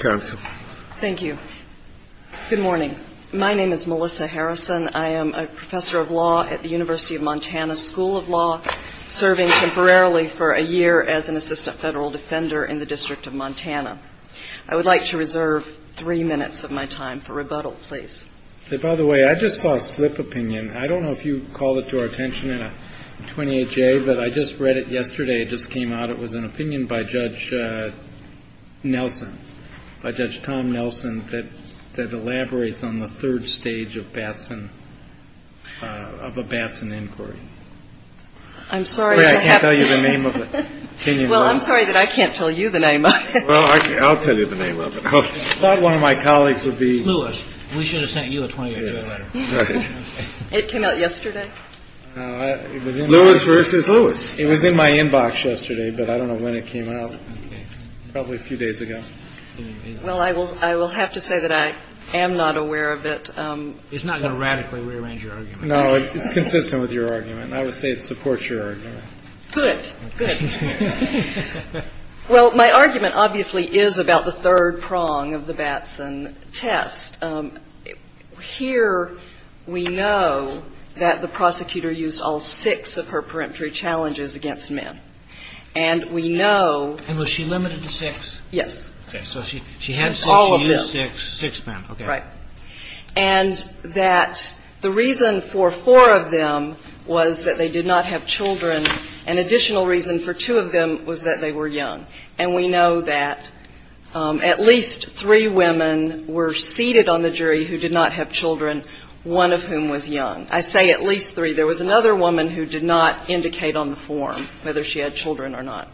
Counsel. Thank you. Good morning. My name is Melissa Harrison. I am a professor of law at the University of Montana School of Law, serving temporarily for a year as an assistant federal defender in the district of Montana. I would like to reserve three minutes of my time for rebuttal, please. By the way, I just saw a slip opinion. I don't know if you call it to our attention in a 28 day, but I just read it yesterday. It just came out. It was an opinion by Judge Nelson, Judge Tom Nelson that that elaborates on the third stage of Batson of a Batson inquiry. I'm sorry. I can't tell you the name of it. Well, I'm sorry that I can't tell you the name. Well, I'll tell you the name of it. One of my colleagues would be Lewis. We should have sent you a 28 day letter. It came out yesterday. It was in Lewis versus Lewis. It was in my inbox yesterday, but I don't know when it came out. Probably a few days ago. Well, I will. I will have to say that I am not aware of it. It's not going to radically rearrange your argument. No, it's consistent with your argument. I would say it supports your argument. Good. Good. Well, my argument obviously is about the third prong of the Batson test. Here we know that the prosecutor used all six of her peremptory challenges against men. And we know. And was she limited to six? Yes. So she she had all of the six men. Right. And that the reason for four of them was that they did not have children. An additional reason for two of them was that they were young. And we know that at least three women were seated on the jury who did not have children, one of whom was young. I say at least three. There was another woman who did not indicate on the form whether she had children or not.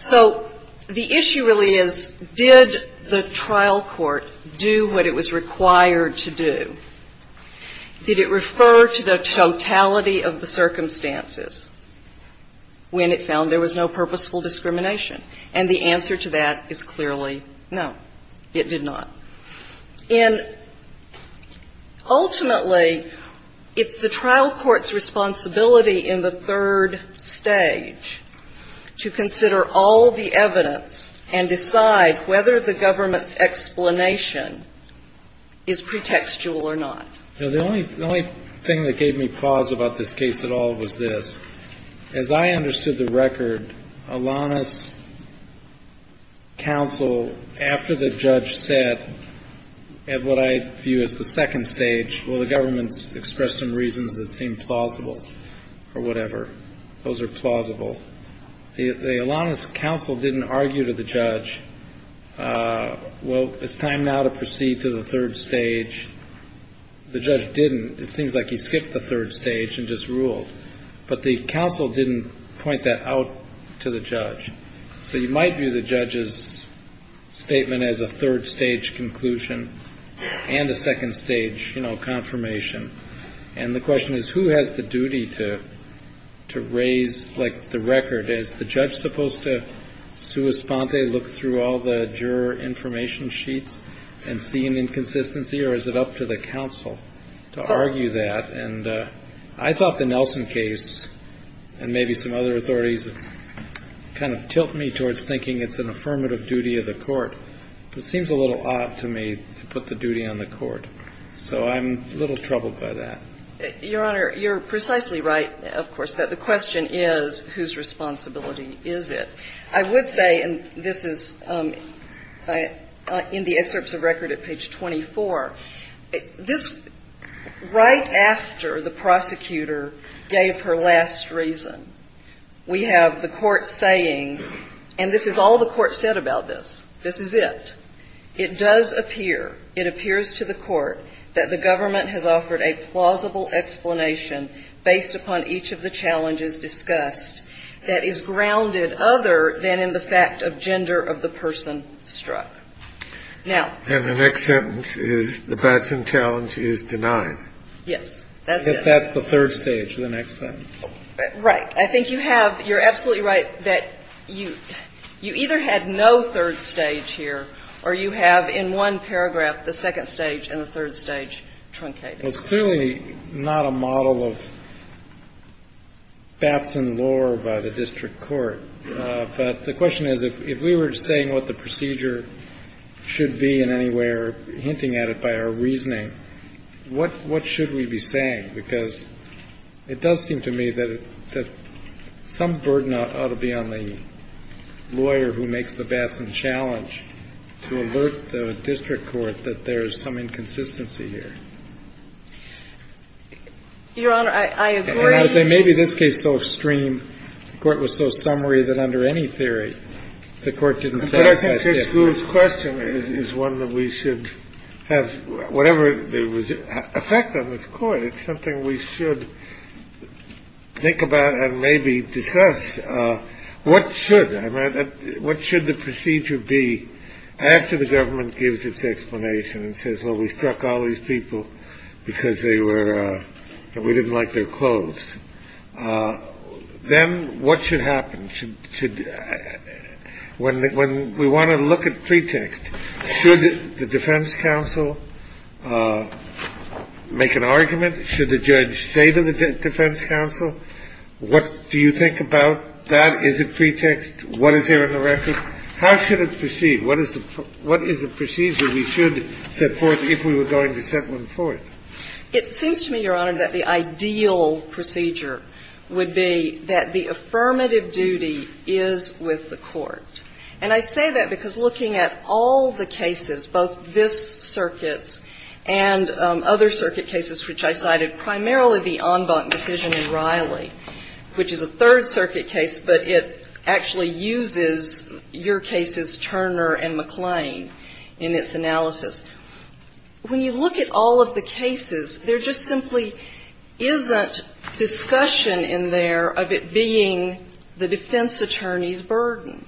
So the issue really is, did the trial court do what it was required to do? Did it refer to the totality of the circumstances when it found there was no purposeful discrimination? And the answer to that is clearly no, it did not. And ultimately, it's the trial court's responsibility in the third stage to consider all the evidence and decide whether the government's explanation is pretextual or not. The only thing that gave me pause about this case at all was this. As I understood the record, Alanis counsel, after the judge said, at what I view as the second stage, will the government express some reasons that seem plausible or whatever? Those are plausible. The Alanis counsel didn't argue to the judge. Well, it's time now to proceed to the third stage. The judge didn't. It's things like he skipped the third stage and just ruled. But the counsel didn't point that out to the judge. So you might view the judge's statement as a third stage conclusion and a second stage confirmation. And the question is, who has the duty to raise the record? Is the judge supposed to sua sponte, look through all the juror information sheets and see an inconsistency? Or is it up to the counsel to argue that? And I thought the Nelson case and maybe some other authorities kind of tilt me towards thinking it's an affirmative duty of the court. It seems a little odd to me to put the duty on the court. So I'm a little troubled by that. Your Honor, you're precisely right, of course, that the question is, whose responsibility is it? I would say, and this is in the excerpts of record at page 24, this right after the prosecutor gave her last reason, we have the court saying, and this is all the court said about this. This is it. It does appear, it appears to the court that the government has offered a plausible explanation based upon each of the challenges discussed that is grounded other than in the fact of gender of the person struck. Now the next sentence is the Batson challenge is denied. Yes. That's the third stage of the next sentence. Right. I think you have, you're absolutely right, that you either had no third stage here or you have in one paragraph the second stage and the third stage truncated. It's clearly not a model of Batson lore by the district court. But the question is, if we were saying what the procedure should be in any way or hinting at it by our reasoning, what should we be saying? I think that's a good point, because it does seem to me that some burden ought to be on the lawyer who makes the Batson challenge to alert the district court that there is some inconsistency here. Your Honor, I agree. And I would say maybe this case is so extreme, the court was so summary that under any theory, the court didn't say. His question is one that we should have whatever there was effect on this court. It's something we should think about and maybe discuss. What should what should the procedure be after the government gives its explanation and says, well, we struck all these people because they were we didn't like their clothes. Then what should happen? When we want to look at pretext, should the defense counsel make an argument? Should the judge say to the defense counsel, what do you think about that? Is it pretext? What is there in the record? How should it proceed? What is the procedure we should set forth if we were going to set one forth? It seems to me, Your Honor, that the ideal procedure would be that the affirmative duty is with the court. And I say that because looking at all the cases, both this circuit's and other circuit cases which I cited, primarily the en banc decision in Riley, which is a third circuit case, but it actually uses your cases, Turner and McClain, in its analysis. When you look at all of the cases, there just simply isn't discussion in there of it being the defense attorney's burden.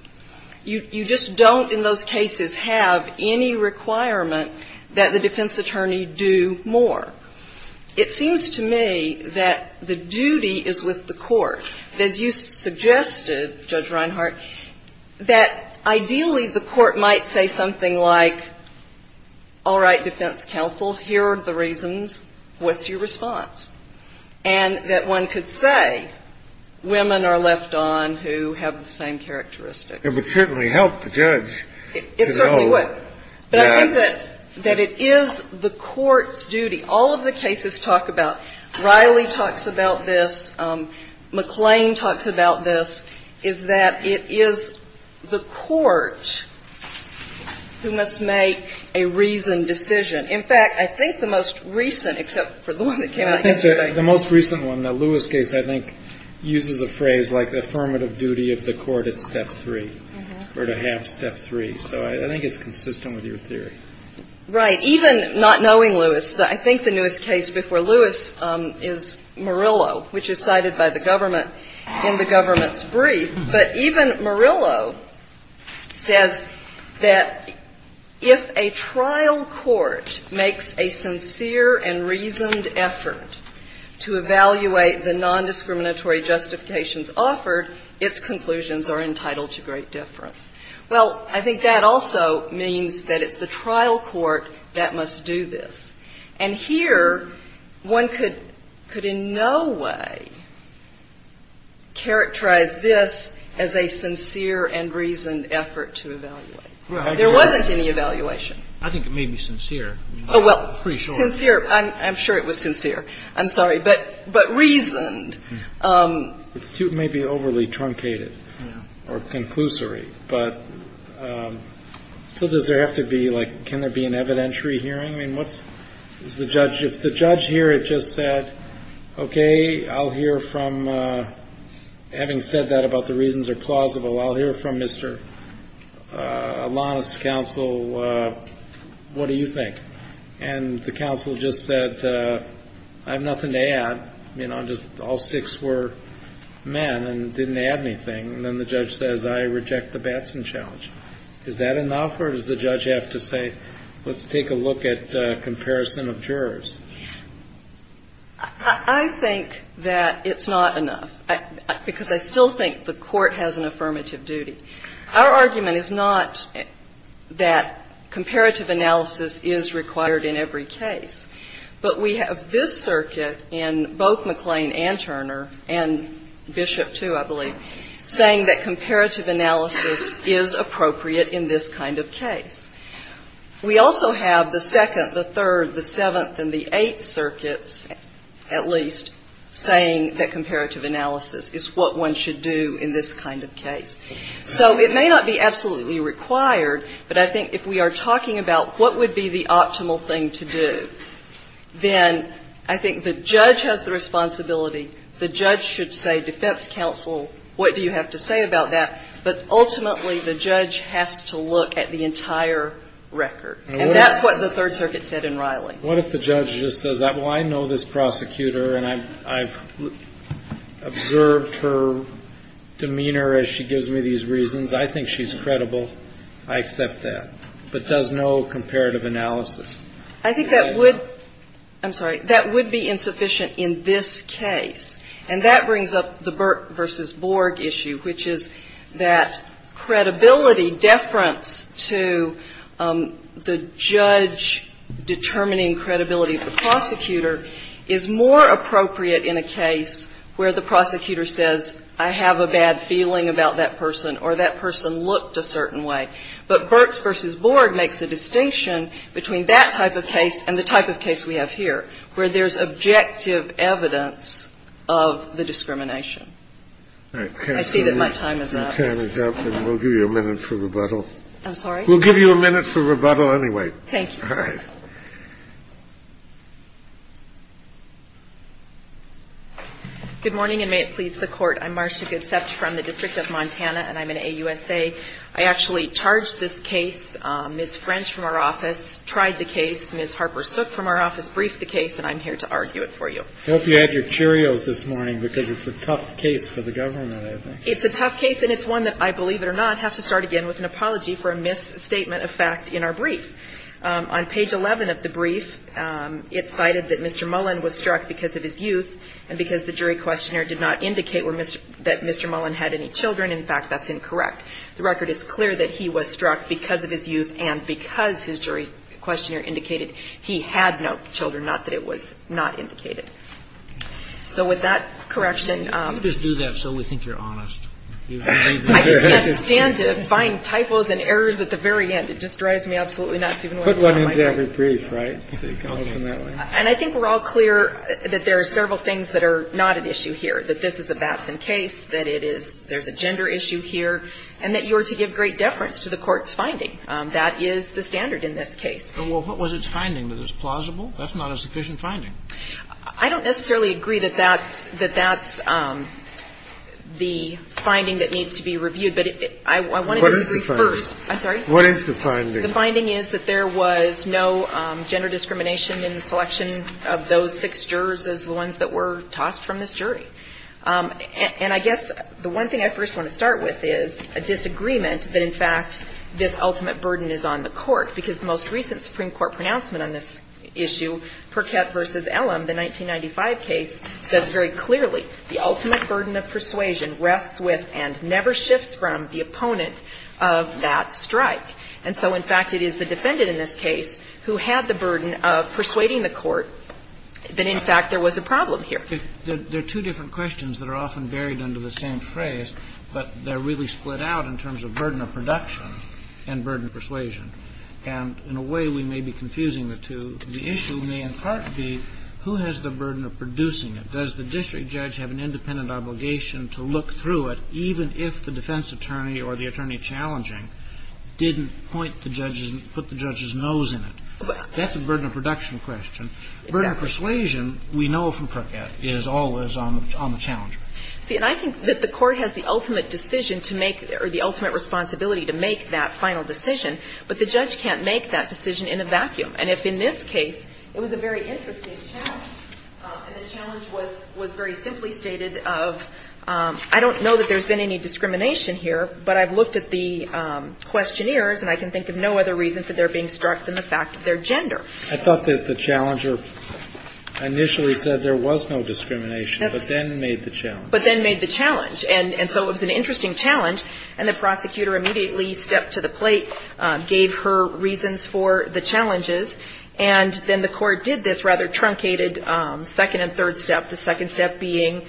You just don't in those cases have any requirement that the defense attorney do more. It seems to me that the duty is with the court. As you suggested, Judge Reinhart, that ideally the court might say something like, all right, defense counsel, here are the reasons, what's your response? And that one could say women are left on who have the same characteristics. It would certainly help the judge to know that the court's duty, all of the cases talk about, Riley talks about this, McClain talks about this, is that it is the court who must make a reasoned decision. In fact, I think the most recent, except for the one that came out yesterday. The most recent one, the Lewis case, I think uses a phrase like the affirmative duty of the court at step three or to have step three. So I think it's consistent with your theory. Right. Even not knowing Lewis, I think the newest case before Lewis is Murillo, which is cited by the government in the government's brief, but even Murillo says that if a trial court makes a sincere and reasoned effort to evaluate the nondiscriminatory justifications offered, its conclusions are entitled to great difference. Well, I think that also means that it's the trial court that must do this. And here one could in no way characterize this as a sincere and reasoned effort to evaluate. There wasn't any evaluation. I think it may be sincere. Oh, well, sincere. I'm sure it was sincere. I'm sorry. But reasoned. It's too maybe overly truncated or conclusory. But so does there have to be like can there be an evidentiary hearing? I mean, what's the judge if the judge here had just said, okay, I'll hear from having said that about the reasons are plausible. I'll hear from Mr. Alanis counsel. What do you think? And the counsel just said I have nothing to add, you know, just all six were men and didn't add anything. And then the judge says I reject the Batson challenge. Is that enough or does the judge have to say let's take a look at comparison of jurors? I think that it's not enough because I still think the court has an affirmative duty. Our argument is not that comparative analysis is required in every case. But we have this circuit in both McLean and Turner and Bishop, too, I believe, saying that comparative analysis is appropriate in this kind of case. We also have the second, the third, the seventh and the eighth circuits at least saying that comparative analysis is what one should do in this kind of case. So it may not be absolutely required, but I think if we are talking about what would be the optimal thing to do, then I think the judge has the responsibility. The judge should say defense counsel, what do you have to say about that? But ultimately, the judge has to look at the entire record. And that's what the Third Circuit said in Riley. What if the judge just says, well, I know this prosecutor and I've observed her demeanor as she gives me these reasons. I think she's credible. I accept that. But does no comparative analysis. I think that would be insufficient in this case. And that brings up the Burke v. Borg issue, which is that credibility, deference to the judge determining credibility of the prosecutor is more appropriate in a case where the prosecutor says I have a bad feeling about that person or that person looked a certain way. But Burke v. Borg makes a distinction between that type of case and the type of case we have here where there's objective evidence of the discrimination. I see that my time is up. We'll give you a minute for rebuttal. I'm sorry? We'll give you a minute for rebuttal anyway. Thank you. All right. Good morning, and may it please the Court. I'm Marcia Goodsept from the District of Montana, and I'm an AUSA. I actually charged this case. Ms. French from our office tried the case. Ms. Harper Sook from our office briefed the case, and I'm here to argue it for you. I hope you had your Cheerios this morning because it's a tough case for the government, I think. It's a tough case, and it's one that I, believe it or not, have to start again with an apology for a misstatement of fact in our brief. On page 11 of the brief, it cited that Mr. Mullen was struck because of his youth and because the jury questionnaire did not indicate that Mr. Mullen had any children. In fact, that's incorrect. The record is clear that he was struck because of his youth and because his jury questionnaire indicated he had no children, not that it was not indicated. So with that correction ---- Let me just do that so we think you're honest. I just can't stand to find typos and errors at the very end. It just drives me absolutely nuts even when it's not my case. Put one into every brief, right? And I think we're all clear that there are several things that are not at issue here, that this is a Batson case, that it is ---- there's a gender issue here, and that you are to give great deference to the Court's finding. That is the standard in this case. Well, what was its finding? That it's plausible? That's not a sufficient finding. I don't necessarily agree that that's the finding that needs to be reviewed, but I wanted to agree first. What is the first? The finding is that there was no gender discrimination in the selection of those six jurors as the ones that were tossed from this jury. And I guess the one thing I first want to start with is a disagreement that, in fact, this ultimate burden is on the Court, because the most recent Supreme Court pronouncement on this issue, Perkett v. Ellum, the 1995 case, says very clearly, the ultimate burden of persuasion rests with and never shifts from the opponent of that strike. And so, in fact, it is the defendant in this case who had the burden of persuading the Court that, in fact, there was a problem here. There are two different questions that are often buried under the same phrase, but they're really split out in terms of burden of production and burden of persuasion. And in a way, we may be confusing the two. The issue may in part be, who has the burden of producing it? Does the district judge have an independent obligation to look through it, even if the defense attorney or the attorney challenging didn't point the judge's and put the judge's nose in it? That's a burden of production question. Burden of persuasion, we know from Perkett, is always on the challenger. See, and I think that the Court has the ultimate decision to make or the ultimate responsibility to make that final decision, but the judge can't make that decision in a vacuum. And if in this case it was a very interesting challenge, and the challenge was very simply stated of, I don't know that there's been any discrimination here, but I've looked at the questionnaires, and I can think of no other reason for their being struck than the fact that they're gender. I thought that the challenger initially said there was no discrimination, but then made the challenge. But then made the challenge. And so it was an interesting challenge, and the prosecutor immediately stepped to the plate, gave her reasons for the challenges, and then the Court did this rather being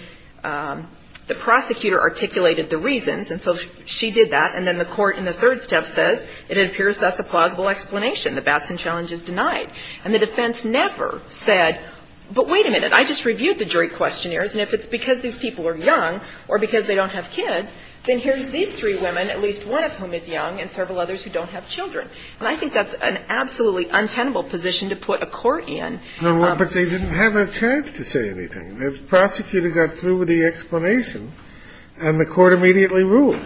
the prosecutor articulated the reasons. And so she did that, and then the Court in the third step says, it appears that's a plausible explanation. The Batson challenge is denied. And the defense never said, but wait a minute, I just reviewed the jury questionnaires, and if it's because these people are young or because they don't have kids, then here's these three women, at least one of whom is young and several others who don't have children. And I think that's an absolutely untenable position to put a court in. But they didn't have a chance to say anything. The prosecutor got through with the explanation, and the Court immediately ruled.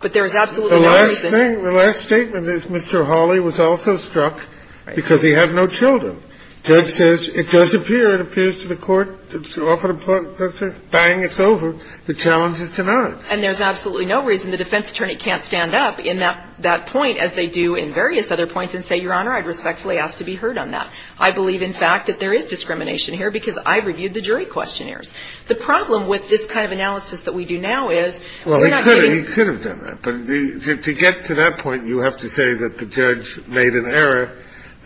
But there is absolutely no reason. The last thing, the last statement is Mr. Hawley was also struck because he had no children. Judge says, it does appear, it appears to the Court, bang, it's over. The challenge is denied. And there's absolutely no reason the defense attorney can't stand up in that point as they do in various other points and say, Your Honor, I'd respectfully ask to be heard on that. I believe, in fact, that there is discrimination here because I reviewed the jury questionnaires. The problem with this kind of analysis that we do now is, we're not getting Well, he could have. He could have done that. But to get to that point, you have to say that the judge made an error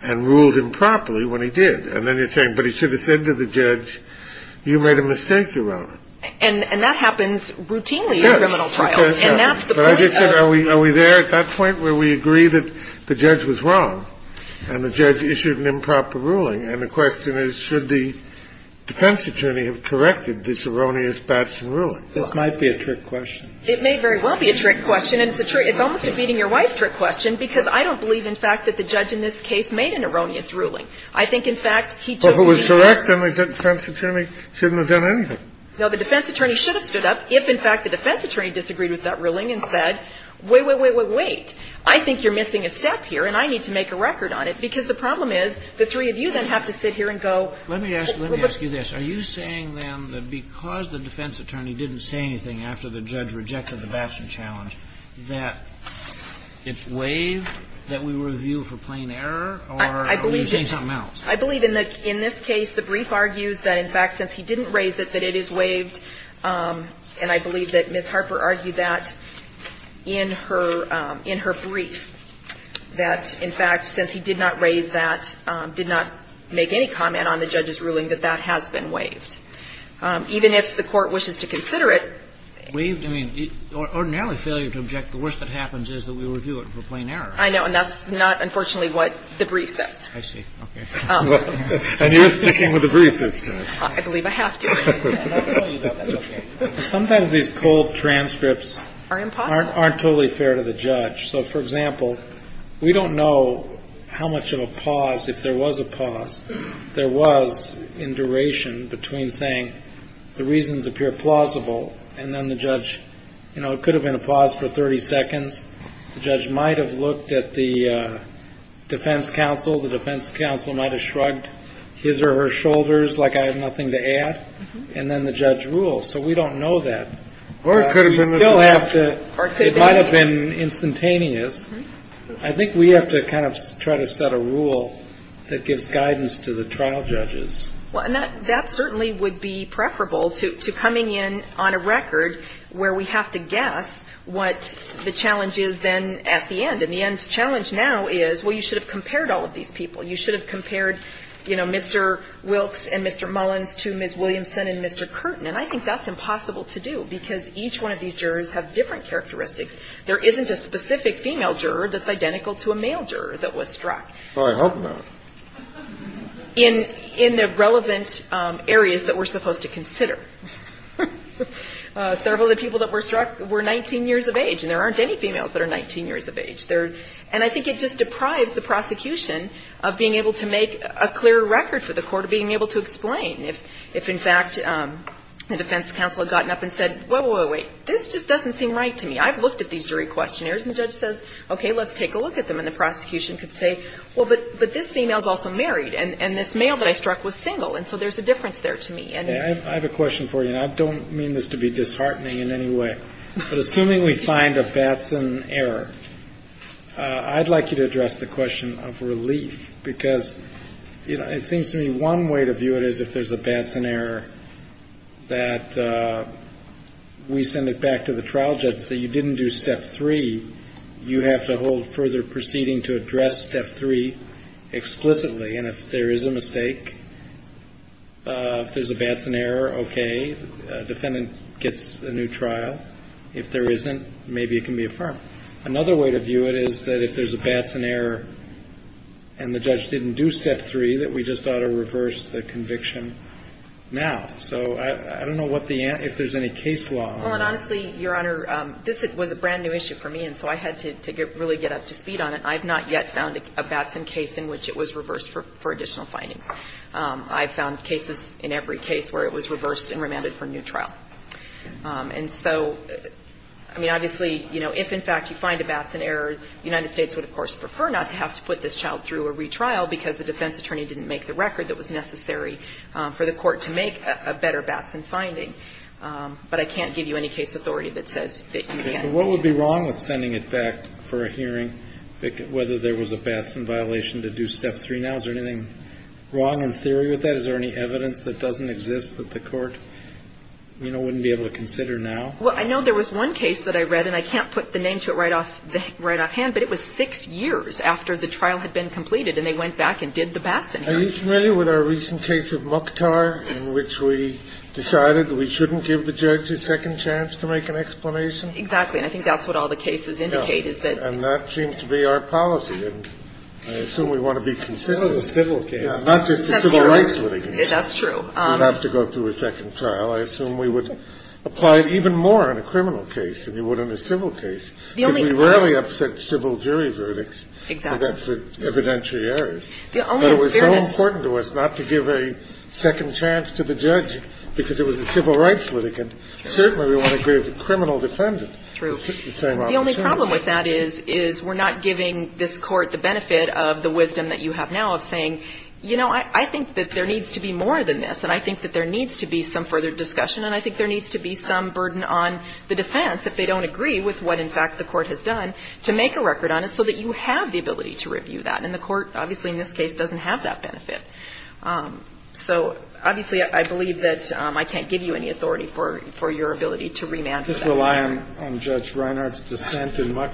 and ruled him properly when he did. And then you're saying, but he should have said to the judge, you made a mistake, Your Honor. And that happens routinely in criminal trials. Yes. It does happen. Are we there at that point where we agree that the judge was wrong and the judge issued an improper ruling, and the question is, should the defense attorney have corrected this erroneous Batson ruling? This might be a trick question. It may very well be a trick question, and it's almost a beating-your-wife trick question, because I don't believe, in fact, that the judge in this case made an erroneous ruling. I think, in fact, he took the easy part. Well, if it was correct and the defense attorney shouldn't have done anything. No. The defense attorney should have stood up if, in fact, the defense attorney disagreed with that ruling and said, wait, wait, wait, wait, wait. I think you're missing a step here, and I need to make a record on it, because the problem is the three of you then have to sit here and go. Let me ask you this. Are you saying, then, that because the defense attorney didn't say anything after the judge rejected the Batson challenge, that it's waived, that we review for plain error, or are you saying something else? I believe in this case the brief argues that, in fact, since he didn't raise it, that it is waived, and I believe that Ms. Harper argued that in her brief, that, in fact, since he did not raise that, did not make any comment on the judge's ruling, that that has been waived. Even if the Court wishes to consider it. Waived? I mean, ordinarily failure to object, the worst that happens is that we review it for plain error. I know, and that's not, unfortunately, what the brief says. I see. Okay. And you're sticking with the brief this time. I believe I have to. Sometimes these cold transcripts aren't totally fair to the judge. So, for example, we don't know how much of a pause, if there was a pause, there was in duration between saying the reasons appear plausible and then the judge, you know, it could have been a pause for 30 seconds, the judge might have looked at the defense counsel, the defense counsel might have shrugged his or her shoulders like I have nothing to add, and then the judge rules. So we don't know that. Or it could have been instantaneous. It might have been instantaneous. I think we have to kind of try to set a rule that gives guidance to the trial judges. Well, and that certainly would be preferable to coming in on a record where we have to guess what the challenge is then at the end. And the end challenge now is, well, you should have compared all of these people. You should have compared, you know, Mr. Wilkes and Mr. Mullins to Ms. Williamson and Mr. Curtin. And I think that's impossible to do because each one of these jurors have different characteristics. There isn't a specific female juror that's identical to a male juror that was struck. I hope not. In the relevant areas that we're supposed to consider. Several of the people that were struck were 19 years of age, and there aren't any females that are 19 years of age. And I think it just deprives the prosecution of being able to make a clear record for the court of being able to explain. If, in fact, the defense counsel had gotten up and said, whoa, whoa, wait, this just doesn't seem right to me. I've looked at these jury questionnaires. And the judge says, okay, let's take a look at them. And the prosecution could say, well, but this female's also married. And this male that I struck was single. And so there's a difference there to me. I have a question for you. And I don't mean this to be disheartening in any way. But assuming we find a Batson error, I'd like you to address the question of relief. Because it seems to me one way to view it is if there's a Batson error that we send it back to the trial judge and say you didn't do step three, you have to hold further proceeding to address step three explicitly. And if there is a mistake, if there's a Batson error, okay. The defendant gets a new trial. If there isn't, maybe it can be affirmed. Another way to view it is that if there's a Batson error and the judge didn't do step three, that we just ought to reverse the conviction now. So I don't know what the answer – if there's any case law on that. Well, and honestly, Your Honor, this was a brand-new issue for me. And so I had to really get up to speed on it. I've not yet found a Batson case in which it was reversed for additional findings. I've found cases in every case where it was reversed and remanded for a new trial. And so, I mean, obviously, you know, if, in fact, you find a Batson error, the United States would, of course, prefer not to have to put this child through a retrial because the defense attorney didn't make the record that was necessary for the court to make a better Batson finding. But I can't give you any case authority that says that you can't. But what would be wrong with sending it back for a hearing, whether there was a Batson violation to do step three now? Is there anything wrong in theory with that? Is there any evidence that doesn't exist that the court, you know, wouldn't be able to consider now? Well, I know there was one case that I read. And I can't put the name to it right off – right offhand. But it was six years after the trial had been completed. And they went back and did the Batson hearing. Are you familiar with our recent case of Mukhtar in which we decided we shouldn't give the judge a second chance to make an explanation? Exactly. And I think that's what all the cases indicate, is that – And I assume we want to be consistent. That was a civil case. Not just a civil rights litigant. That's true. We'd have to go through a second trial. I assume we would apply it even more in a criminal case than we would in a civil case. The only – Because we rarely upset civil jury verdicts. Exactly. So that's the evidentiary errors. The only fairness – But it was so important to us not to give a second chance to the judge because it was a civil rights litigant. Certainly we want to give the criminal defendant the same opportunity. The problem with that is we're not giving this court the benefit of the wisdom that you have now of saying, you know, I think that there needs to be more than this. And I think that there needs to be some further discussion. And I think there needs to be some burden on the defense if they don't agree with what, in fact, the court has done, to make a record on it so that you have the ability to review that. And the court, obviously, in this case, doesn't have that benefit. So, obviously, I believe that I can't give you any authority for your ability to remand for that. I just rely on Judge Reinhardt's dissent in my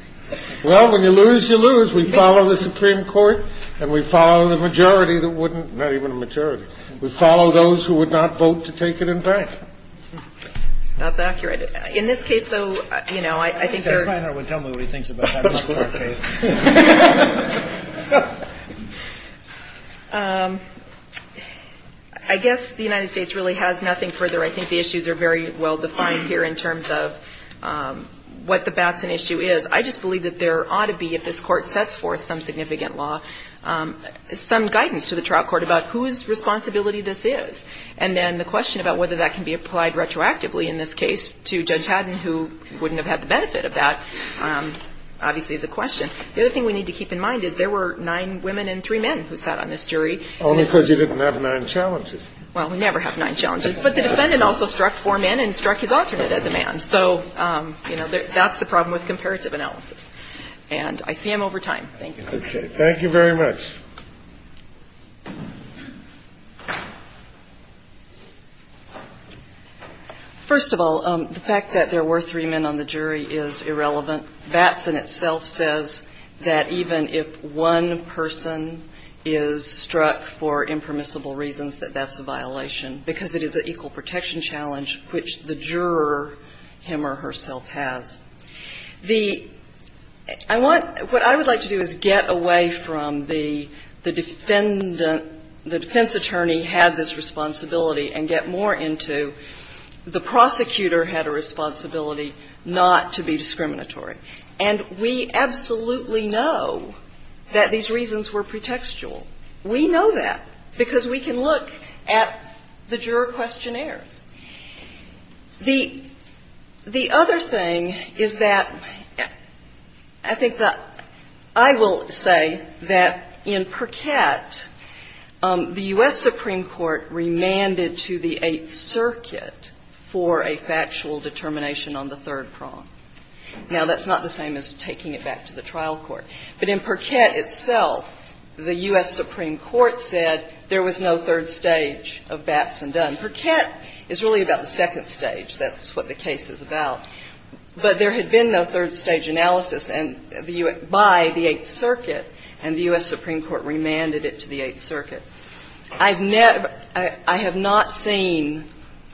– Well, when you lose, you lose. We follow the Supreme Court and we follow the majority that wouldn't – not even a majority. We follow those who would not vote to take it in bank. That's accurate. In this case, though, you know, I think there – I think Judge Reinhardt would tell me what he thinks about that before the case. I guess the United States really has nothing further. I think the issues are very well defined here in terms of what the Batson issue is. I just believe that there ought to be, if this Court sets forth some significant law, some guidance to the trial court about whose responsibility this is. And then the question about whether that can be applied retroactively in this case to Judge Haddon, who wouldn't have had the benefit of that, obviously, is a question. The other thing we need to keep in mind is there were nine women and three men who sat on this jury. Only because you didn't have nine challenges. Well, we never have nine challenges. But the defendant also struck four men and struck his alternate as a man. So, you know, that's the problem with comparative analysis. And I see him over time. Thank you. Okay. Thank you very much. First of all, the fact that there were three men on the jury is irrelevant. Batson itself says that even if one person is struck for impermissible reasons, that that's a violation because it is an equal protection challenge, which the juror, him or herself, has. The – I want – what I would like to do is get away from the defendant – the defense attorney had this responsibility and get more into the prosecutor had a responsibility not to be discriminatory. And we absolutely know that these reasons were pretextual. We know that because we can look at the juror questionnaires. The other thing is that I think that – I will say that in Perkett, the U.S. Supreme Court remanded to the Eighth Circuit for a factual determination on the third prong. Now, that's not the same as taking it back to the trial court. But in Perkett itself, the U.S. Supreme Court said there was no third stage of Batson Dunn. Perkett is really about the second stage. That's what the case is about. But there had been no third stage analysis by the Eighth Circuit, and the U.S. Supreme Court remanded it to the Eighth Circuit. I've never – I have not seen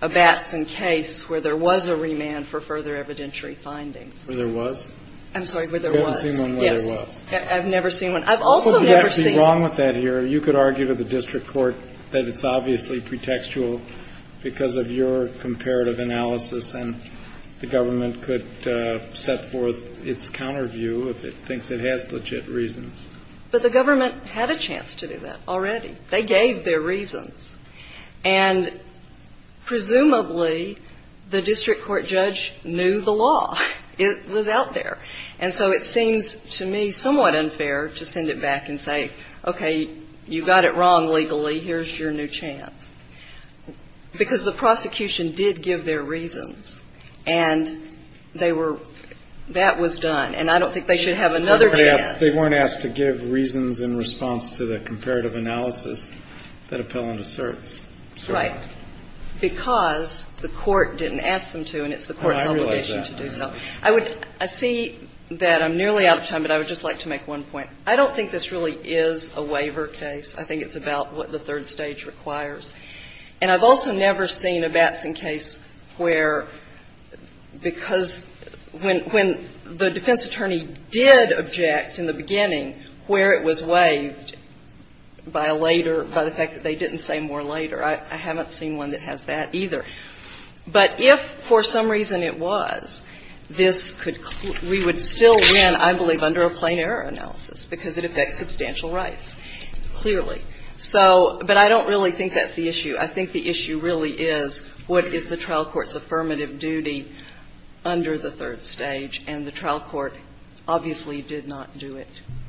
a Batson case where there was a remand for further evidentiary findings. Where there was? I'm sorry, where there was. You haven't seen one where there was? Yes. I've never seen one. I've also never seen – Well, you'd have to be wrong with that here. You could argue to the district court that it's obviously pretextual because of your comparative analysis, and the government could set forth its counter view if it thinks it has legit reasons. But the government had a chance to do that already. They gave their reasons. And presumably, the district court judge knew the law. It was out there. And so it seems to me somewhat unfair to send it back and say, okay, you got it wrong legally, here's your new chance, because the prosecution did give their reasons and they were – that was done. And I don't think they should have another chance. But they weren't asked to give reasons in response to the comparative analysis that appellant asserts. Right. Because the court didn't ask them to and it's the court's obligation to do so. I see that I'm nearly out of time, but I would just like to make one point. I don't think this really is a waiver case. I think it's about what the third stage requires. And I've also never seen a Batson case where – because when the defense attorney did object in the beginning where it was waived by a later – by the fact that they didn't say more later. I haven't seen one that has that either. But if for some reason it was, this could – we would still win, I believe, under a plain error analysis, because it affects substantial rights, clearly. So – but I don't really think that's the issue. I think the issue really is what is the trial court's affirmative duty under the third stage, and the trial court obviously did not do it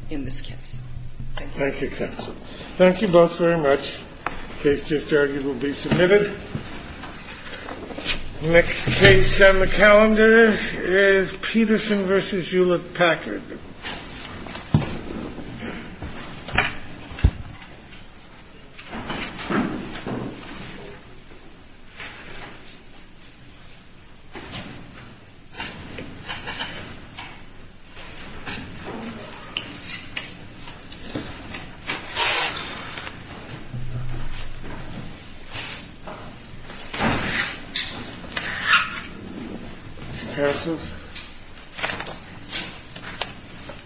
in this case. Thank you. Thank you, counsel. Thank you both very much. The case just argued will be submitted. Next case on the calendar is Peterson v. Hewlett-Packard. Counsel? Thank you.